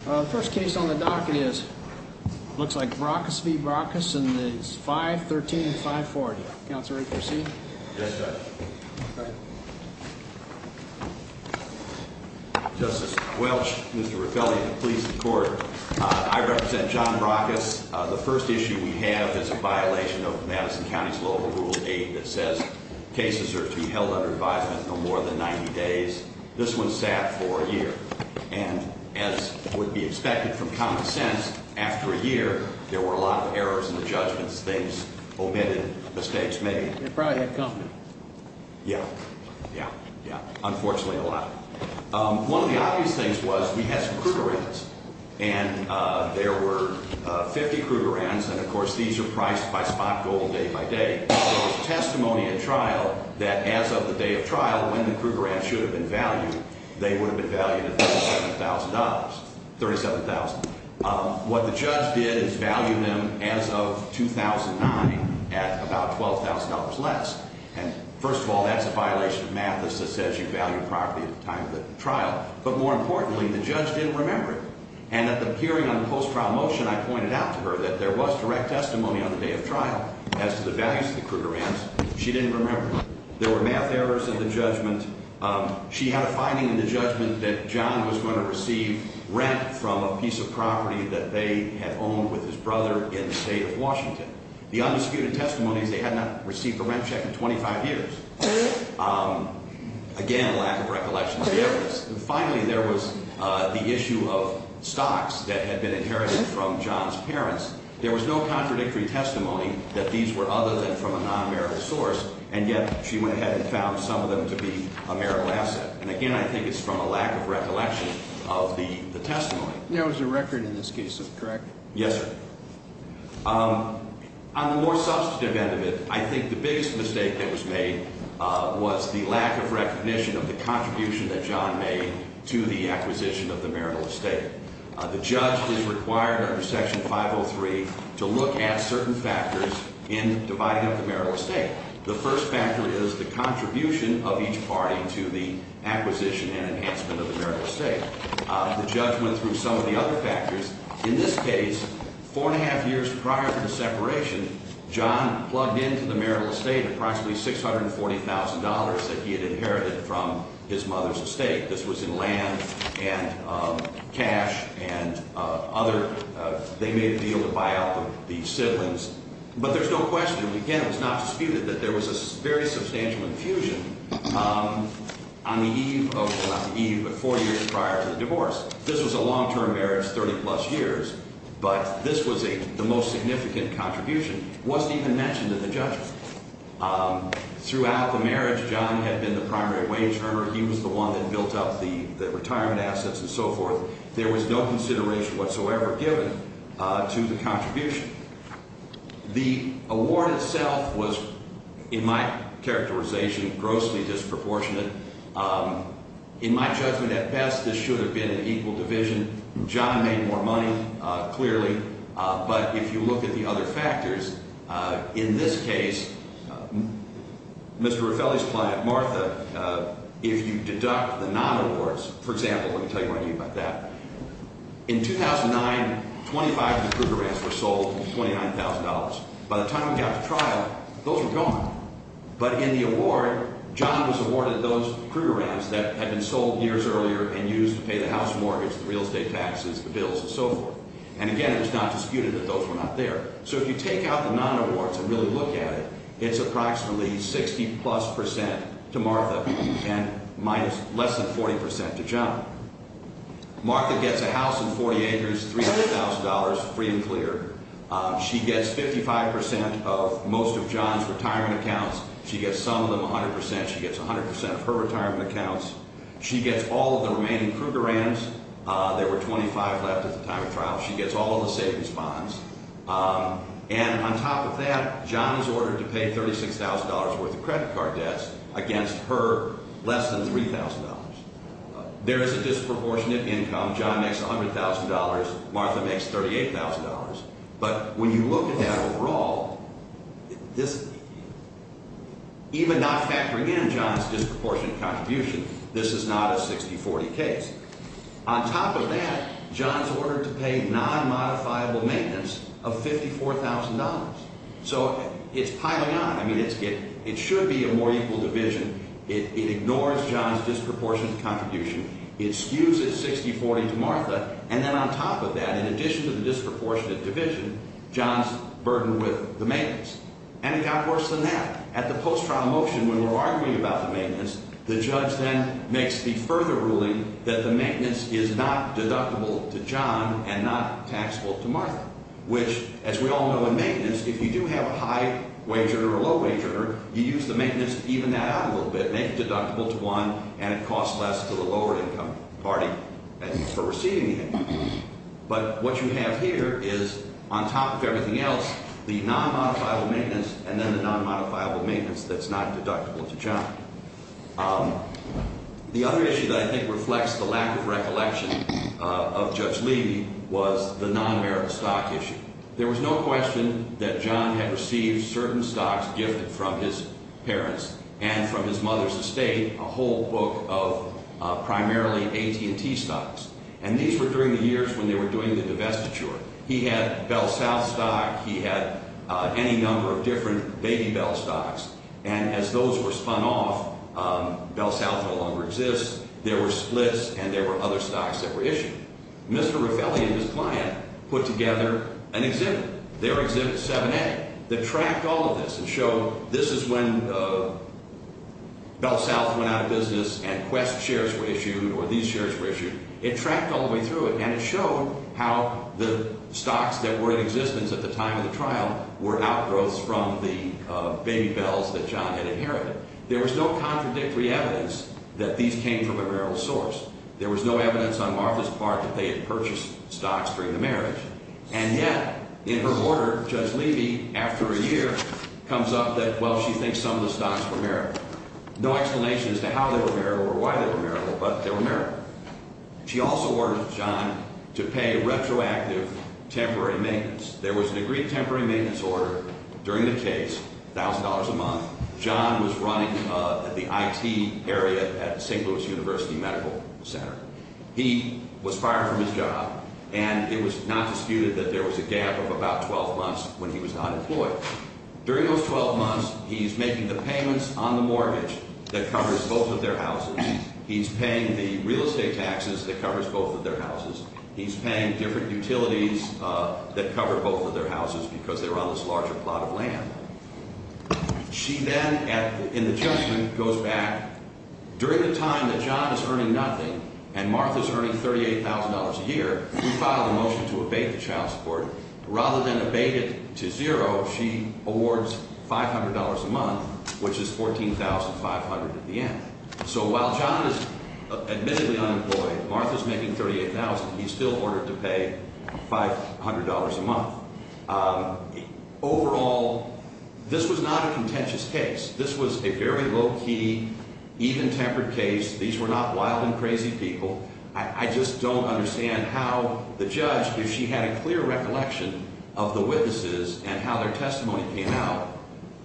The first case on the docket is, looks like Brockus v. Brockus, and it's 513 and 540. Counselor, are you ready to proceed? Yes, Judge. Go ahead. Justice Welch, Mr. Rapelli, and the police and court, I represent John Brockus. The first issue we have is a violation of Madison County's local Rule 8 that says cases are to be held under advisement for more than 90 days. This one sat for a year, and as would be expected from common sense, after a year, there were a lot of errors in the judgments, things omitted, mistakes made. They probably had confidence. Yeah, yeah, yeah, unfortunately a lot. One of the obvious things was we had some Krugerrands, and there were 50 Krugerrands, and of course these are priced by spot gold day by day. There was testimony at trial that as of the day of trial, when the Krugerrands should have been valued, they would have been valued at $37,000, $37,000. What the judge did is value them as of 2009 at about $12,000 less. And first of all, that's a violation of Madison that says you value property at the time of the trial. But more importantly, the judge didn't remember it. And at the hearing on the post-trial motion, I pointed out to her that there was direct testimony on the day of trial as to the values of the Krugerrands. She didn't remember. There were math errors in the judgment. She had a finding in the judgment that John was going to receive rent from a piece of property that they had owned with his brother in the state of Washington. The undisputed testimony is they had not received a rent check in 25 years. Again, lack of recollection of the evidence. And finally, there was the issue of stocks that had been inherited from John's parents. There was no contradictory testimony that these were other than from a non-marital source, and yet she went ahead and found some of them to be a marital asset. And again, I think it's from a lack of recollection of the testimony. There was a record in this case, correct? Yes, sir. On the more substantive end of it, I think the biggest mistake that was made was the lack of recognition of the contribution that John made to the acquisition of the marital estate. The judge is required under Section 503 to look at certain factors in dividing up the marital estate. The first factor is the contribution of each party to the acquisition and enhancement of the marital estate. The judge went through some of the other factors. In this case, four and a half years prior to the separation, John plugged into the marital estate approximately $640,000 that he had inherited from his mother's estate. This was in land and cash and other. They made a deal to buy out the siblings. But there's no question, again, it was not disputed that there was a very substantial infusion on the eve of, not the eve, but four years prior to the divorce. This was a long-term marriage, 30-plus years, but this was the most significant contribution. It wasn't even mentioned in the judgment. Throughout the marriage, John had been the primary wage earner. He was the one that built up the retirement assets and so forth. There was no consideration whatsoever given to the contribution. The award itself was, in my characterization, grossly disproportionate. In my judgment, at best, this should have been an equal division. John made more money, clearly. But if you look at the other factors, in this case, Mr. Raffelli's client, Martha, if you deduct the non-awards, for example, let me tell you what I mean by that. In 2009, 25 of the Krugerrands were sold for $29,000. By the time we got to trial, those were gone. But in the award, John was awarded those Krugerrands that had been sold years earlier and used to pay the house mortgage, the real estate taxes, the bills, and so forth. And, again, it was not disputed that those were not there. So if you take out the non-awards and really look at it, it's approximately 60-plus percent to Martha and less than 40 percent to John. Martha gets a house in 48 years, $300,000, free and clear. She gets 55 percent of most of John's retirement accounts. She gets some of them 100 percent. She gets 100 percent of her retirement accounts. She gets all of the remaining Krugerrands. There were 25 left at the time of trial. She gets all of the savings bonds. And on top of that, John is ordered to pay $36,000 worth of credit card debts against her less than $3,000. There is a disproportionate income. John makes $100,000. Martha makes $38,000. But when you look at that overall, even not factoring in John's disproportionate contribution, this is not a 60-40 case. On top of that, John is ordered to pay non-modifiable maintenance of $54,000. So it's piling on. I mean, it should be a more equal division. It ignores John's disproportionate contribution. It skews it 60-40 to Martha. And then on top of that, in addition to the disproportionate division, John is burdened with the maintenance. And it got worse than that. At the post-trial motion, when we're arguing about the maintenance, the judge then makes the further ruling that the maintenance is not deductible to John and not taxable to Martha, which, as we all know in maintenance, if you do have a high-wager or a low-wager, you use the maintenance to even that out a little bit, make it deductible to one, and it costs less to the lower-income party for receiving it. But what you have here is, on top of everything else, the non-modifiable maintenance and then the non-modifiable maintenance that's not deductible to John. The other issue that I think reflects the lack of recollection of Judge Levy was the non-merit stock issue. There was no question that John had received certain stocks gifted from his parents and from his mother's estate, a whole book of primarily AT&T stocks. And these were during the years when they were doing the divestiture. He had Bell South stock. He had any number of different baby Bell stocks. And as those were spun off, Bell South no longer exists. There were splits, and there were other stocks that were issued. Mr. Raffelli and his client put together an exhibit, their exhibit 7A, that tracked all of this and showed this is when Bell South went out of business and Quest shares were issued or these shares were issued. It tracked all the way through it, and it showed how the stocks that were in existence at the time of the trial were outgrowths from the baby Bells that John had inherited. There was no contradictory evidence that these came from a marital source. There was no evidence on Martha's part that they had purchased stocks during the marriage. And yet, in her order, Judge Levy, after a year, comes up that, well, she thinks some of the stocks were marital. No explanation as to how they were marital or why they were marital, but they were marital. She also ordered John to pay retroactive temporary maintenance. There was an agreed temporary maintenance order during the case, $1,000 a month. John was running the IT area at the St. Louis University Medical Center. He was fired from his job, and it was not disputed that there was a gap of about 12 months when he was not employed. During those 12 months, he's making the payments on the mortgage that covers both of their houses. He's paying the real estate taxes that covers both of their houses. He's paying different utilities that cover both of their houses because they're on this larger plot of land. She then, in the judgment, goes back. During the time that John is earning nothing and Martha's earning $38,000 a year, we filed a motion to abate the child support. Rather than abate it to zero, she awards $500 a month, which is $14,500 at the end. So while John is admittedly unemployed, Martha's making $38,000. He's still ordered to pay $500 a month. Overall, this was not a contentious case. This was a very low-key, even-tempered case. These were not wild and crazy people. I just don't understand how the judge, if she had a clear recollection of the witnesses and how their testimony came out,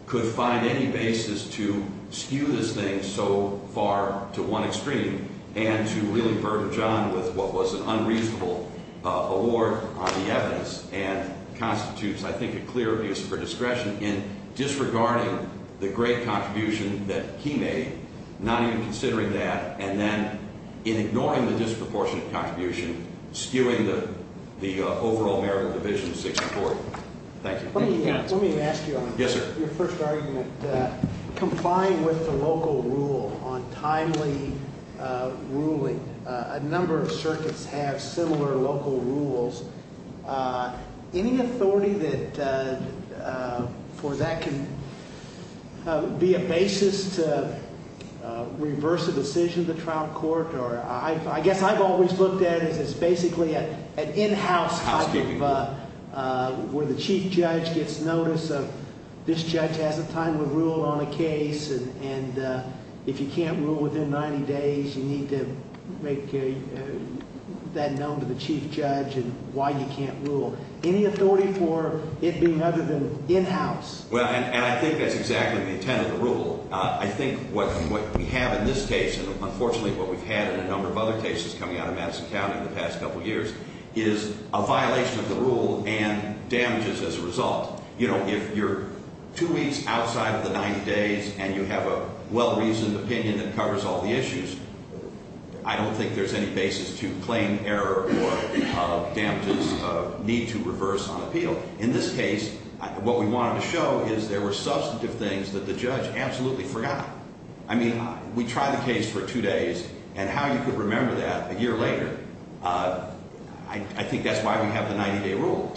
could find any basis to skew this thing so far to one extreme and to really burden John with what was an unreasonable award on the evidence and constitutes, I think, a clear abuse of her discretion in disregarding the great contribution that he made, not even considering that, and then in ignoring the disproportionate contribution, skewing the overall merit of Division 64. Thank you. Thank you, counsel. Let me ask you on your first argument. Confined with the local rule on timely ruling, a number of circuits have similar local rules. Any authority for that can be a basis to reverse a decision of the trial court. I guess I've always looked at it as basically an in-house type of where the chief judge gets notice of this judge has a timely rule on a case, and if you can't rule within 90 days, you need to make that known to the chief judge and why you can't rule. Any authority for it being other than in-house? Well, and I think that's exactly the intent of the rule. I think what we have in this case, and unfortunately what we've had in a number of other cases coming out of Madison County in the past couple years, is a violation of the rule and damages as a result. You know, if you're two weeks outside of the 90 days and you have a well-reasoned opinion that covers all the issues, I don't think there's any basis to claim error or damages need to reverse on appeal. In this case, what we wanted to show is there were substantive things that the judge absolutely forgot. I mean, we tried the case for two days, and how you could remember that a year later, I think that's why we have the 90-day rule,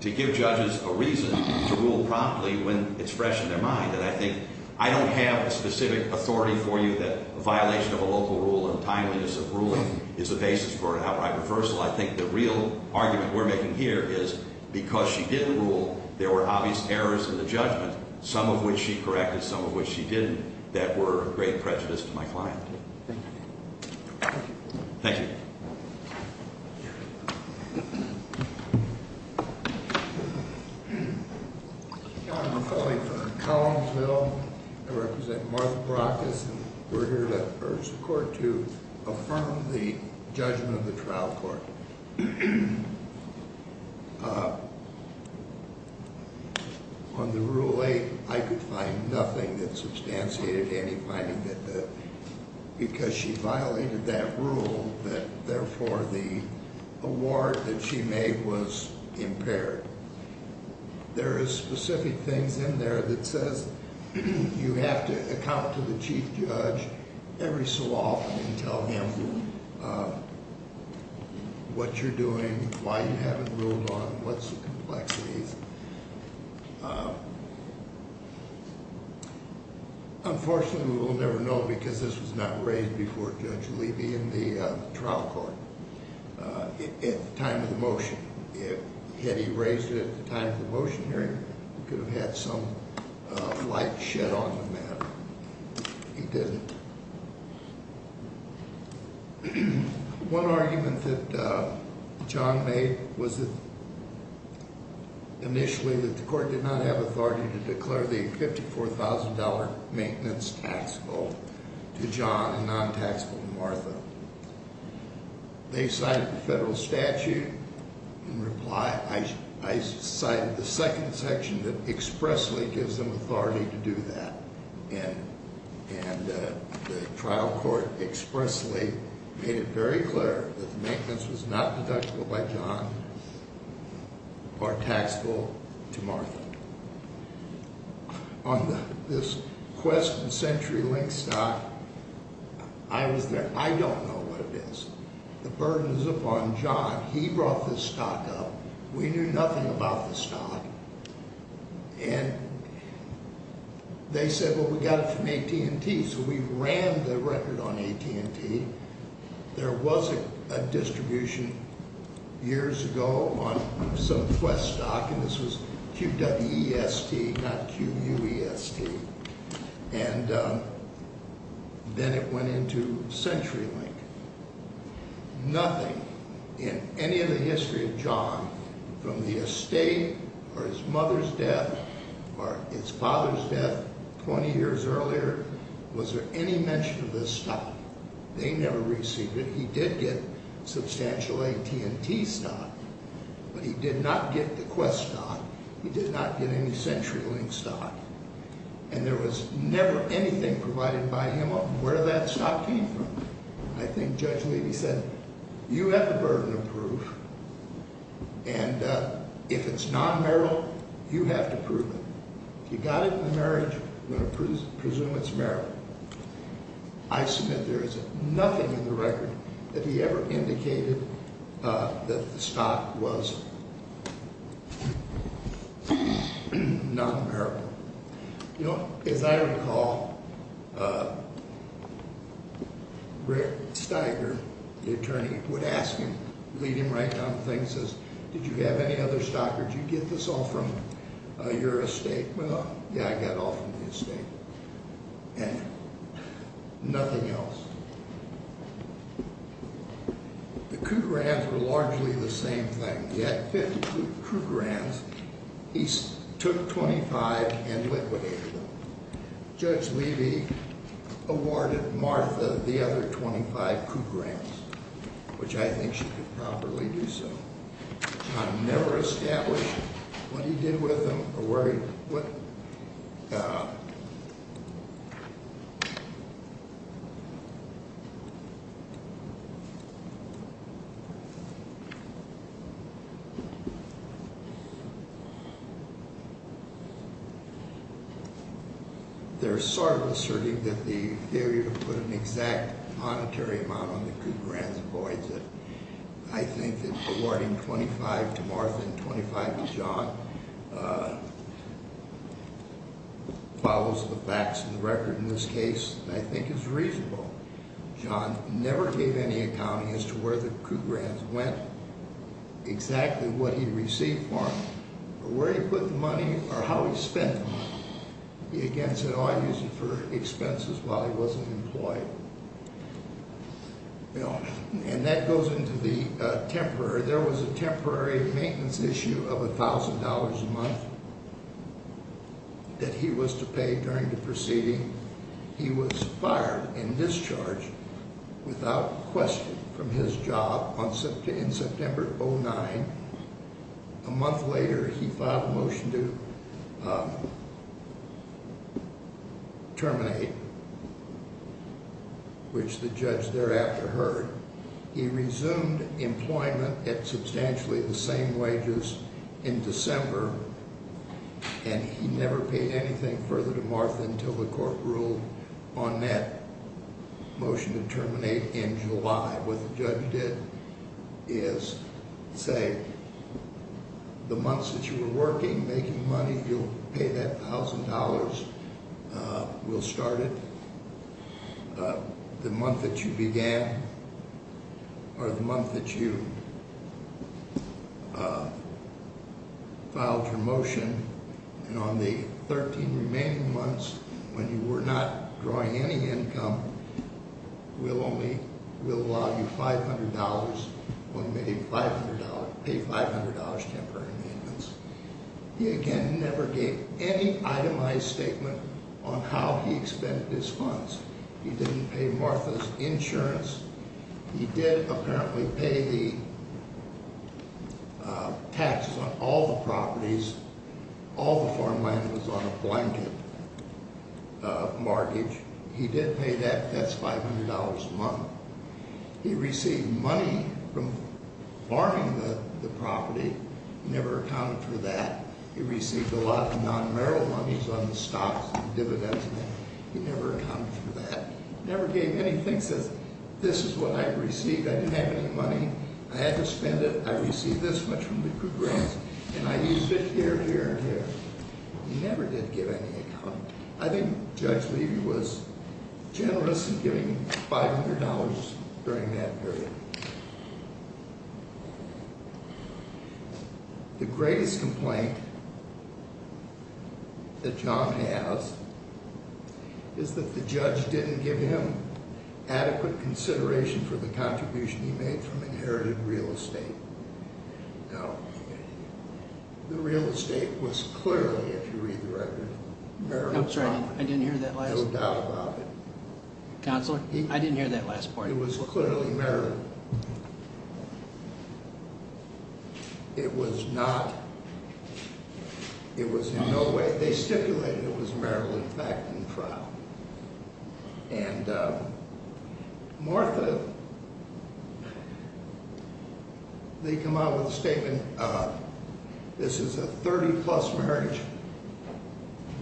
to give judges a reason to rule promptly when it's fresh in their mind. And I think I don't have a specific authority for you that a violation of a local rule and timeliness of ruling is the basis for an outright reversal. I think the real argument we're making here is because she didn't rule, there were obvious errors in the judgment, some of which she corrected, some of which she didn't, that were a great prejudice to my client. Thank you. Thank you. Thank you. I'm calling for Collinsville. I represent Martha Brockes. We're here to urge the court to affirm the judgment of the trial court. On the Rule 8, I could find nothing that substantiated any finding that because she violated that rule that, therefore, the award that she made was impaired. There is specific things in there that says you have to account to the chief judge every so often and tell him what you're doing, why you haven't ruled on, what's the complexities. Unfortunately, we will never know because this was not raised before Judge Levy in the trial court at the time of the motion. Had he raised it at the time of the motion hearing, we could have had some light shed on the matter. He didn't. One argument that John made was that initially that the court did not have authority to declare the $54,000 maintenance taxable to John and non-taxable to Martha. They cited the federal statute in reply. I cited the second section that expressly gives them authority to do that. And the trial court expressly made it very clear that the maintenance was not deductible by John or taxable to Martha. On this Quest and CenturyLink stock, I was there. I don't know what it is. The burden is upon John. He brought this stock up. We knew nothing about the stock. And they said, well, we got it from AT&T, so we ran the record on AT&T. There was a distribution years ago on some Quest stock, and this was Q-W-E-S-T, not Q-U-E-S-T. And then it went into CenturyLink. Nothing in any of the history of John from the estate or his mother's death or his father's death 20 years earlier was there any mention of this stock. He never received it. He did get substantial AT&T stock, but he did not get the Quest stock. He did not get any CenturyLink stock. And there was never anything provided by him on where that stock came from. I think Judge Levy said, you have the burden of proof, and if it's non-merit, you have to prove it. If you got it in the marriage, I'm going to presume it's merit. I submit there is nothing in the record that he ever indicated that the stock was non-merit. You know, as I recall, Rick Steiger, the attorney, would ask him, lead him right down to the thing and says, Did you have any other stock or did you get this all from your estate? Well, yeah, I got all from the estate and nothing else. The Cougar Rans were largely the same thing. He had 50 Cougar Rans. He took 25 and liquidated them. Judge Levy awarded Martha the other 25 Cougar Rans, which I think she could probably do so. I've never established what he did with them or where he put them. They're sort of asserting that the failure to put an exact monetary amount on the Cougar Rans avoids it. I think that awarding 25 to Martha and 25 to John follows the facts in the record in this case, and I think it's reasonable. John never gave any accounting as to where the Cougar Rans went, exactly what he received from them, or where he put the money or how he spent the money. He again said, Oh, I used it for expenses while he wasn't employed. That goes into the temporary. There was a temporary maintenance issue of $1,000 a month that he was to pay during the proceeding. He was fired and discharged without question from his job in September of 2009. A month later, he filed a motion to terminate, which the judge thereafter heard. He resumed employment at substantially the same wages in December, and he never paid anything further to Martha until the court ruled on that motion to terminate in July. What the judge did is say, the months that you were working, making money, you'll pay that $1,000. We'll start it the month that you began or the month that you filed your motion. And on the 13 remaining months, when you were not drawing any income, we'll allow you $500 when you pay $500 temporary maintenance. He again never gave any itemized statement on how he expended his funds. He didn't pay Martha's insurance. He did apparently pay the taxes on all the properties. All the farmland was on a blanket mortgage. He did pay that. That's $500 a month. He received money from farming the property, never accounted for that. He received a lot of non-merrill monies on the stocks and dividends. He never accounted for that. He never gave anything. He says, this is what I received. I didn't have any money. I had to spend it. I received this much from the group grants. And I used it here, here, and here. He never did give any income. I think Judge Levy was generous in giving $500 during that period. The greatest complaint that John has is that the judge didn't give him adequate consideration for the contribution he made from inherited real estate. Now, the real estate was clearly, if you read the record, Merrill's property. No doubt about it. Counselor, I didn't hear that last part. It was clearly Merrill. It was not, it was in no way, they stipulated it was Merrill, in fact, in the trial. And Martha, they come out with a statement. This is a 30 plus marriage.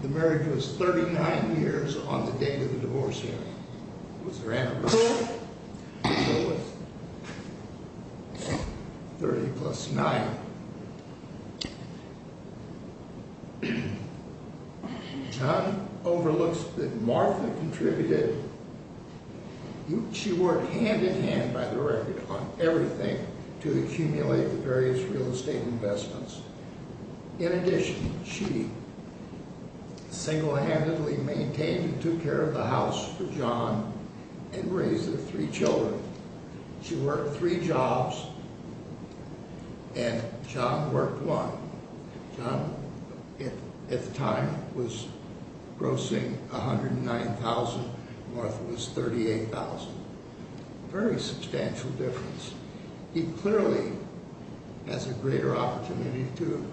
The marriage was 39 years on the date of the divorce here. It was her anniversary. 30 plus 9. John overlooks that Martha contributed. She worked hand in hand, by the record, on everything to accumulate the various real estate investments. In addition, she single-handedly maintained and took care of the house for John and raised their three children. She worked three jobs and John worked one. John, at the time, was grossing $109,000. Martha was $38,000. Very substantial difference. He clearly has a greater opportunity to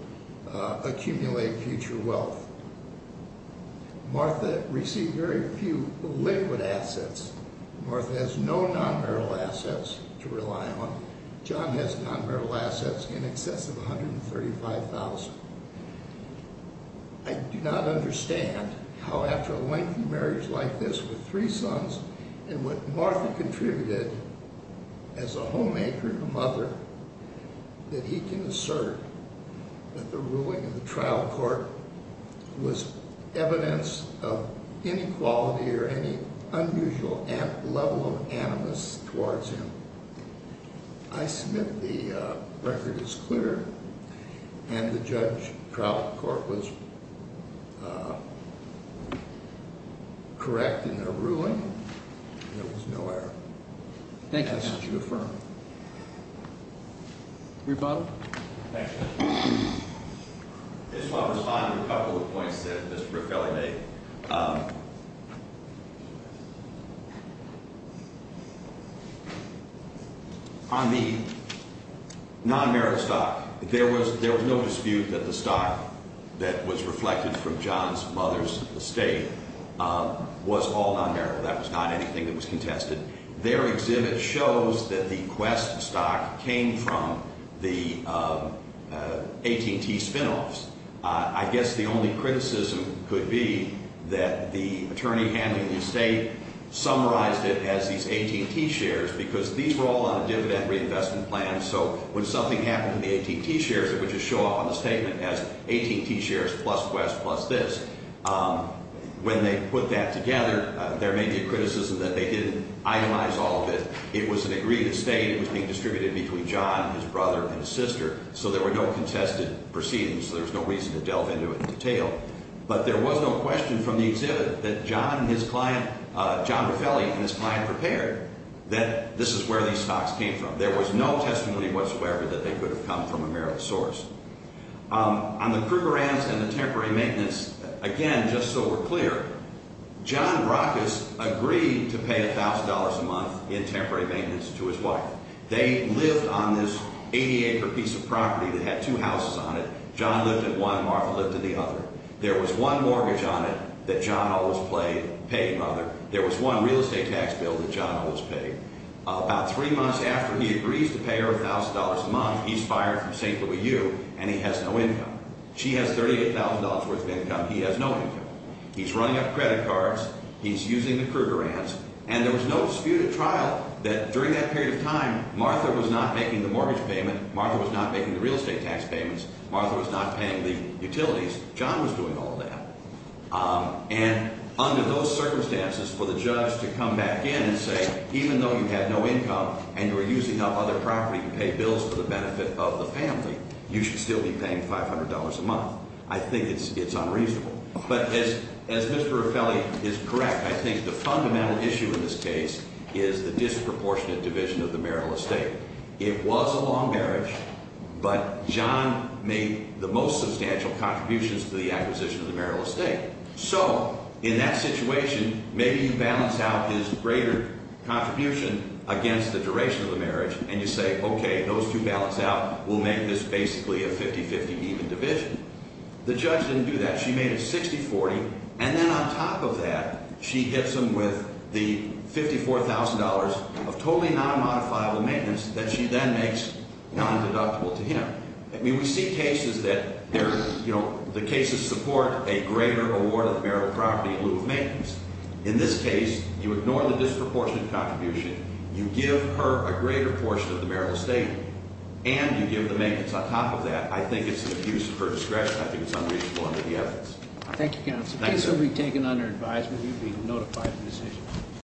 accumulate future wealth. Martha received very few liquid assets. Martha has no non-Merrill assets to rely on. John has non-Merrill assets in excess of $135,000. I do not understand how, after a lengthy marriage like this with three sons, and what Martha contributed as a homemaker and a mother, that he can assert that the ruling in the trial court was evidence of inequality or any unusual level of animus towards him. I submit the record is clear, and the judge trial court was correct in their ruling. There was no error. Thank you, counsel. Rebuttal. I just want to respond to a couple of points that Mr. Ruffelli made. On the non-Merrill stock, there was no dispute that the stock that was reflected from John's mother's estate was all non-Merrill. That was not anything that was contested. Their exhibit shows that the Quest stock came from the AT&T spinoffs. I guess the only criticism could be that the attorney handling the estate summarized it as these AT&T shares because these were all on a dividend reinvestment plan, so when something happened to the AT&T shares, it would just show up on the statement as AT&T shares plus Quest plus this. When they put that together, there may be a criticism that they didn't itemize all of it. It was an agreed estate. It was being distributed between John, his brother, and his sister, so there were no contested proceedings. I'm not going to delve into it in detail, but there was no question from the exhibit that John and his client, John Ruffelli and his client prepared that this is where these stocks came from. There was no testimony whatsoever that they could have come from a Merrill source. On the Krugerrands and the temporary maintenance, again, just so we're clear, John Brockes agreed to pay $1,000 a month in temporary maintenance to his wife. They lived on this 80-acre piece of property that had two houses on it. John lived in one. Martha lived in the other. There was one mortgage on it that John always paid. There was one real estate tax bill that John always paid. About three months after he agrees to pay her $1,000 a month, he's fired from St. Louis U., and he has no income. She has $38,000 worth of income. He has no income. He's running up credit cards. He's using the Krugerrands, and there was no disputed trial that during that period of time, Martha was not making the mortgage payment. Martha was not making the real estate tax payments. Martha was not paying the utilities. John was doing all that. And under those circumstances, for the judge to come back in and say, even though you have no income and you're using up other property to pay bills for the benefit of the family, you should still be paying $500 a month. I think it's unreasonable. But as Mr. Raffelli is correct, I think the fundamental issue in this case is the disproportionate division of the Merrill estate. It was a long marriage, but John made the most substantial contributions to the acquisition of the Merrill estate. So in that situation, maybe you balance out his greater contribution against the duration of the marriage, and you say, okay, those two balance out. We'll make this basically a 50-50 even division. The judge didn't do that. She made it 60-40, and then on top of that, she hits him with the $54,000 of totally non-modifiable maintenance that she then makes non-deductible to him. I mean, we see cases that the cases support a greater award of Merrill property in lieu of maintenance. In this case, you ignore the disproportionate contribution. You give her a greater portion of the Merrill estate, and you give the maintenance. On top of that, I think it's an abuse of her discretion. I think it's unreasonable under the evidence. Thank you, counsel. If this would be taken under advisement, you'd be notified of the decision.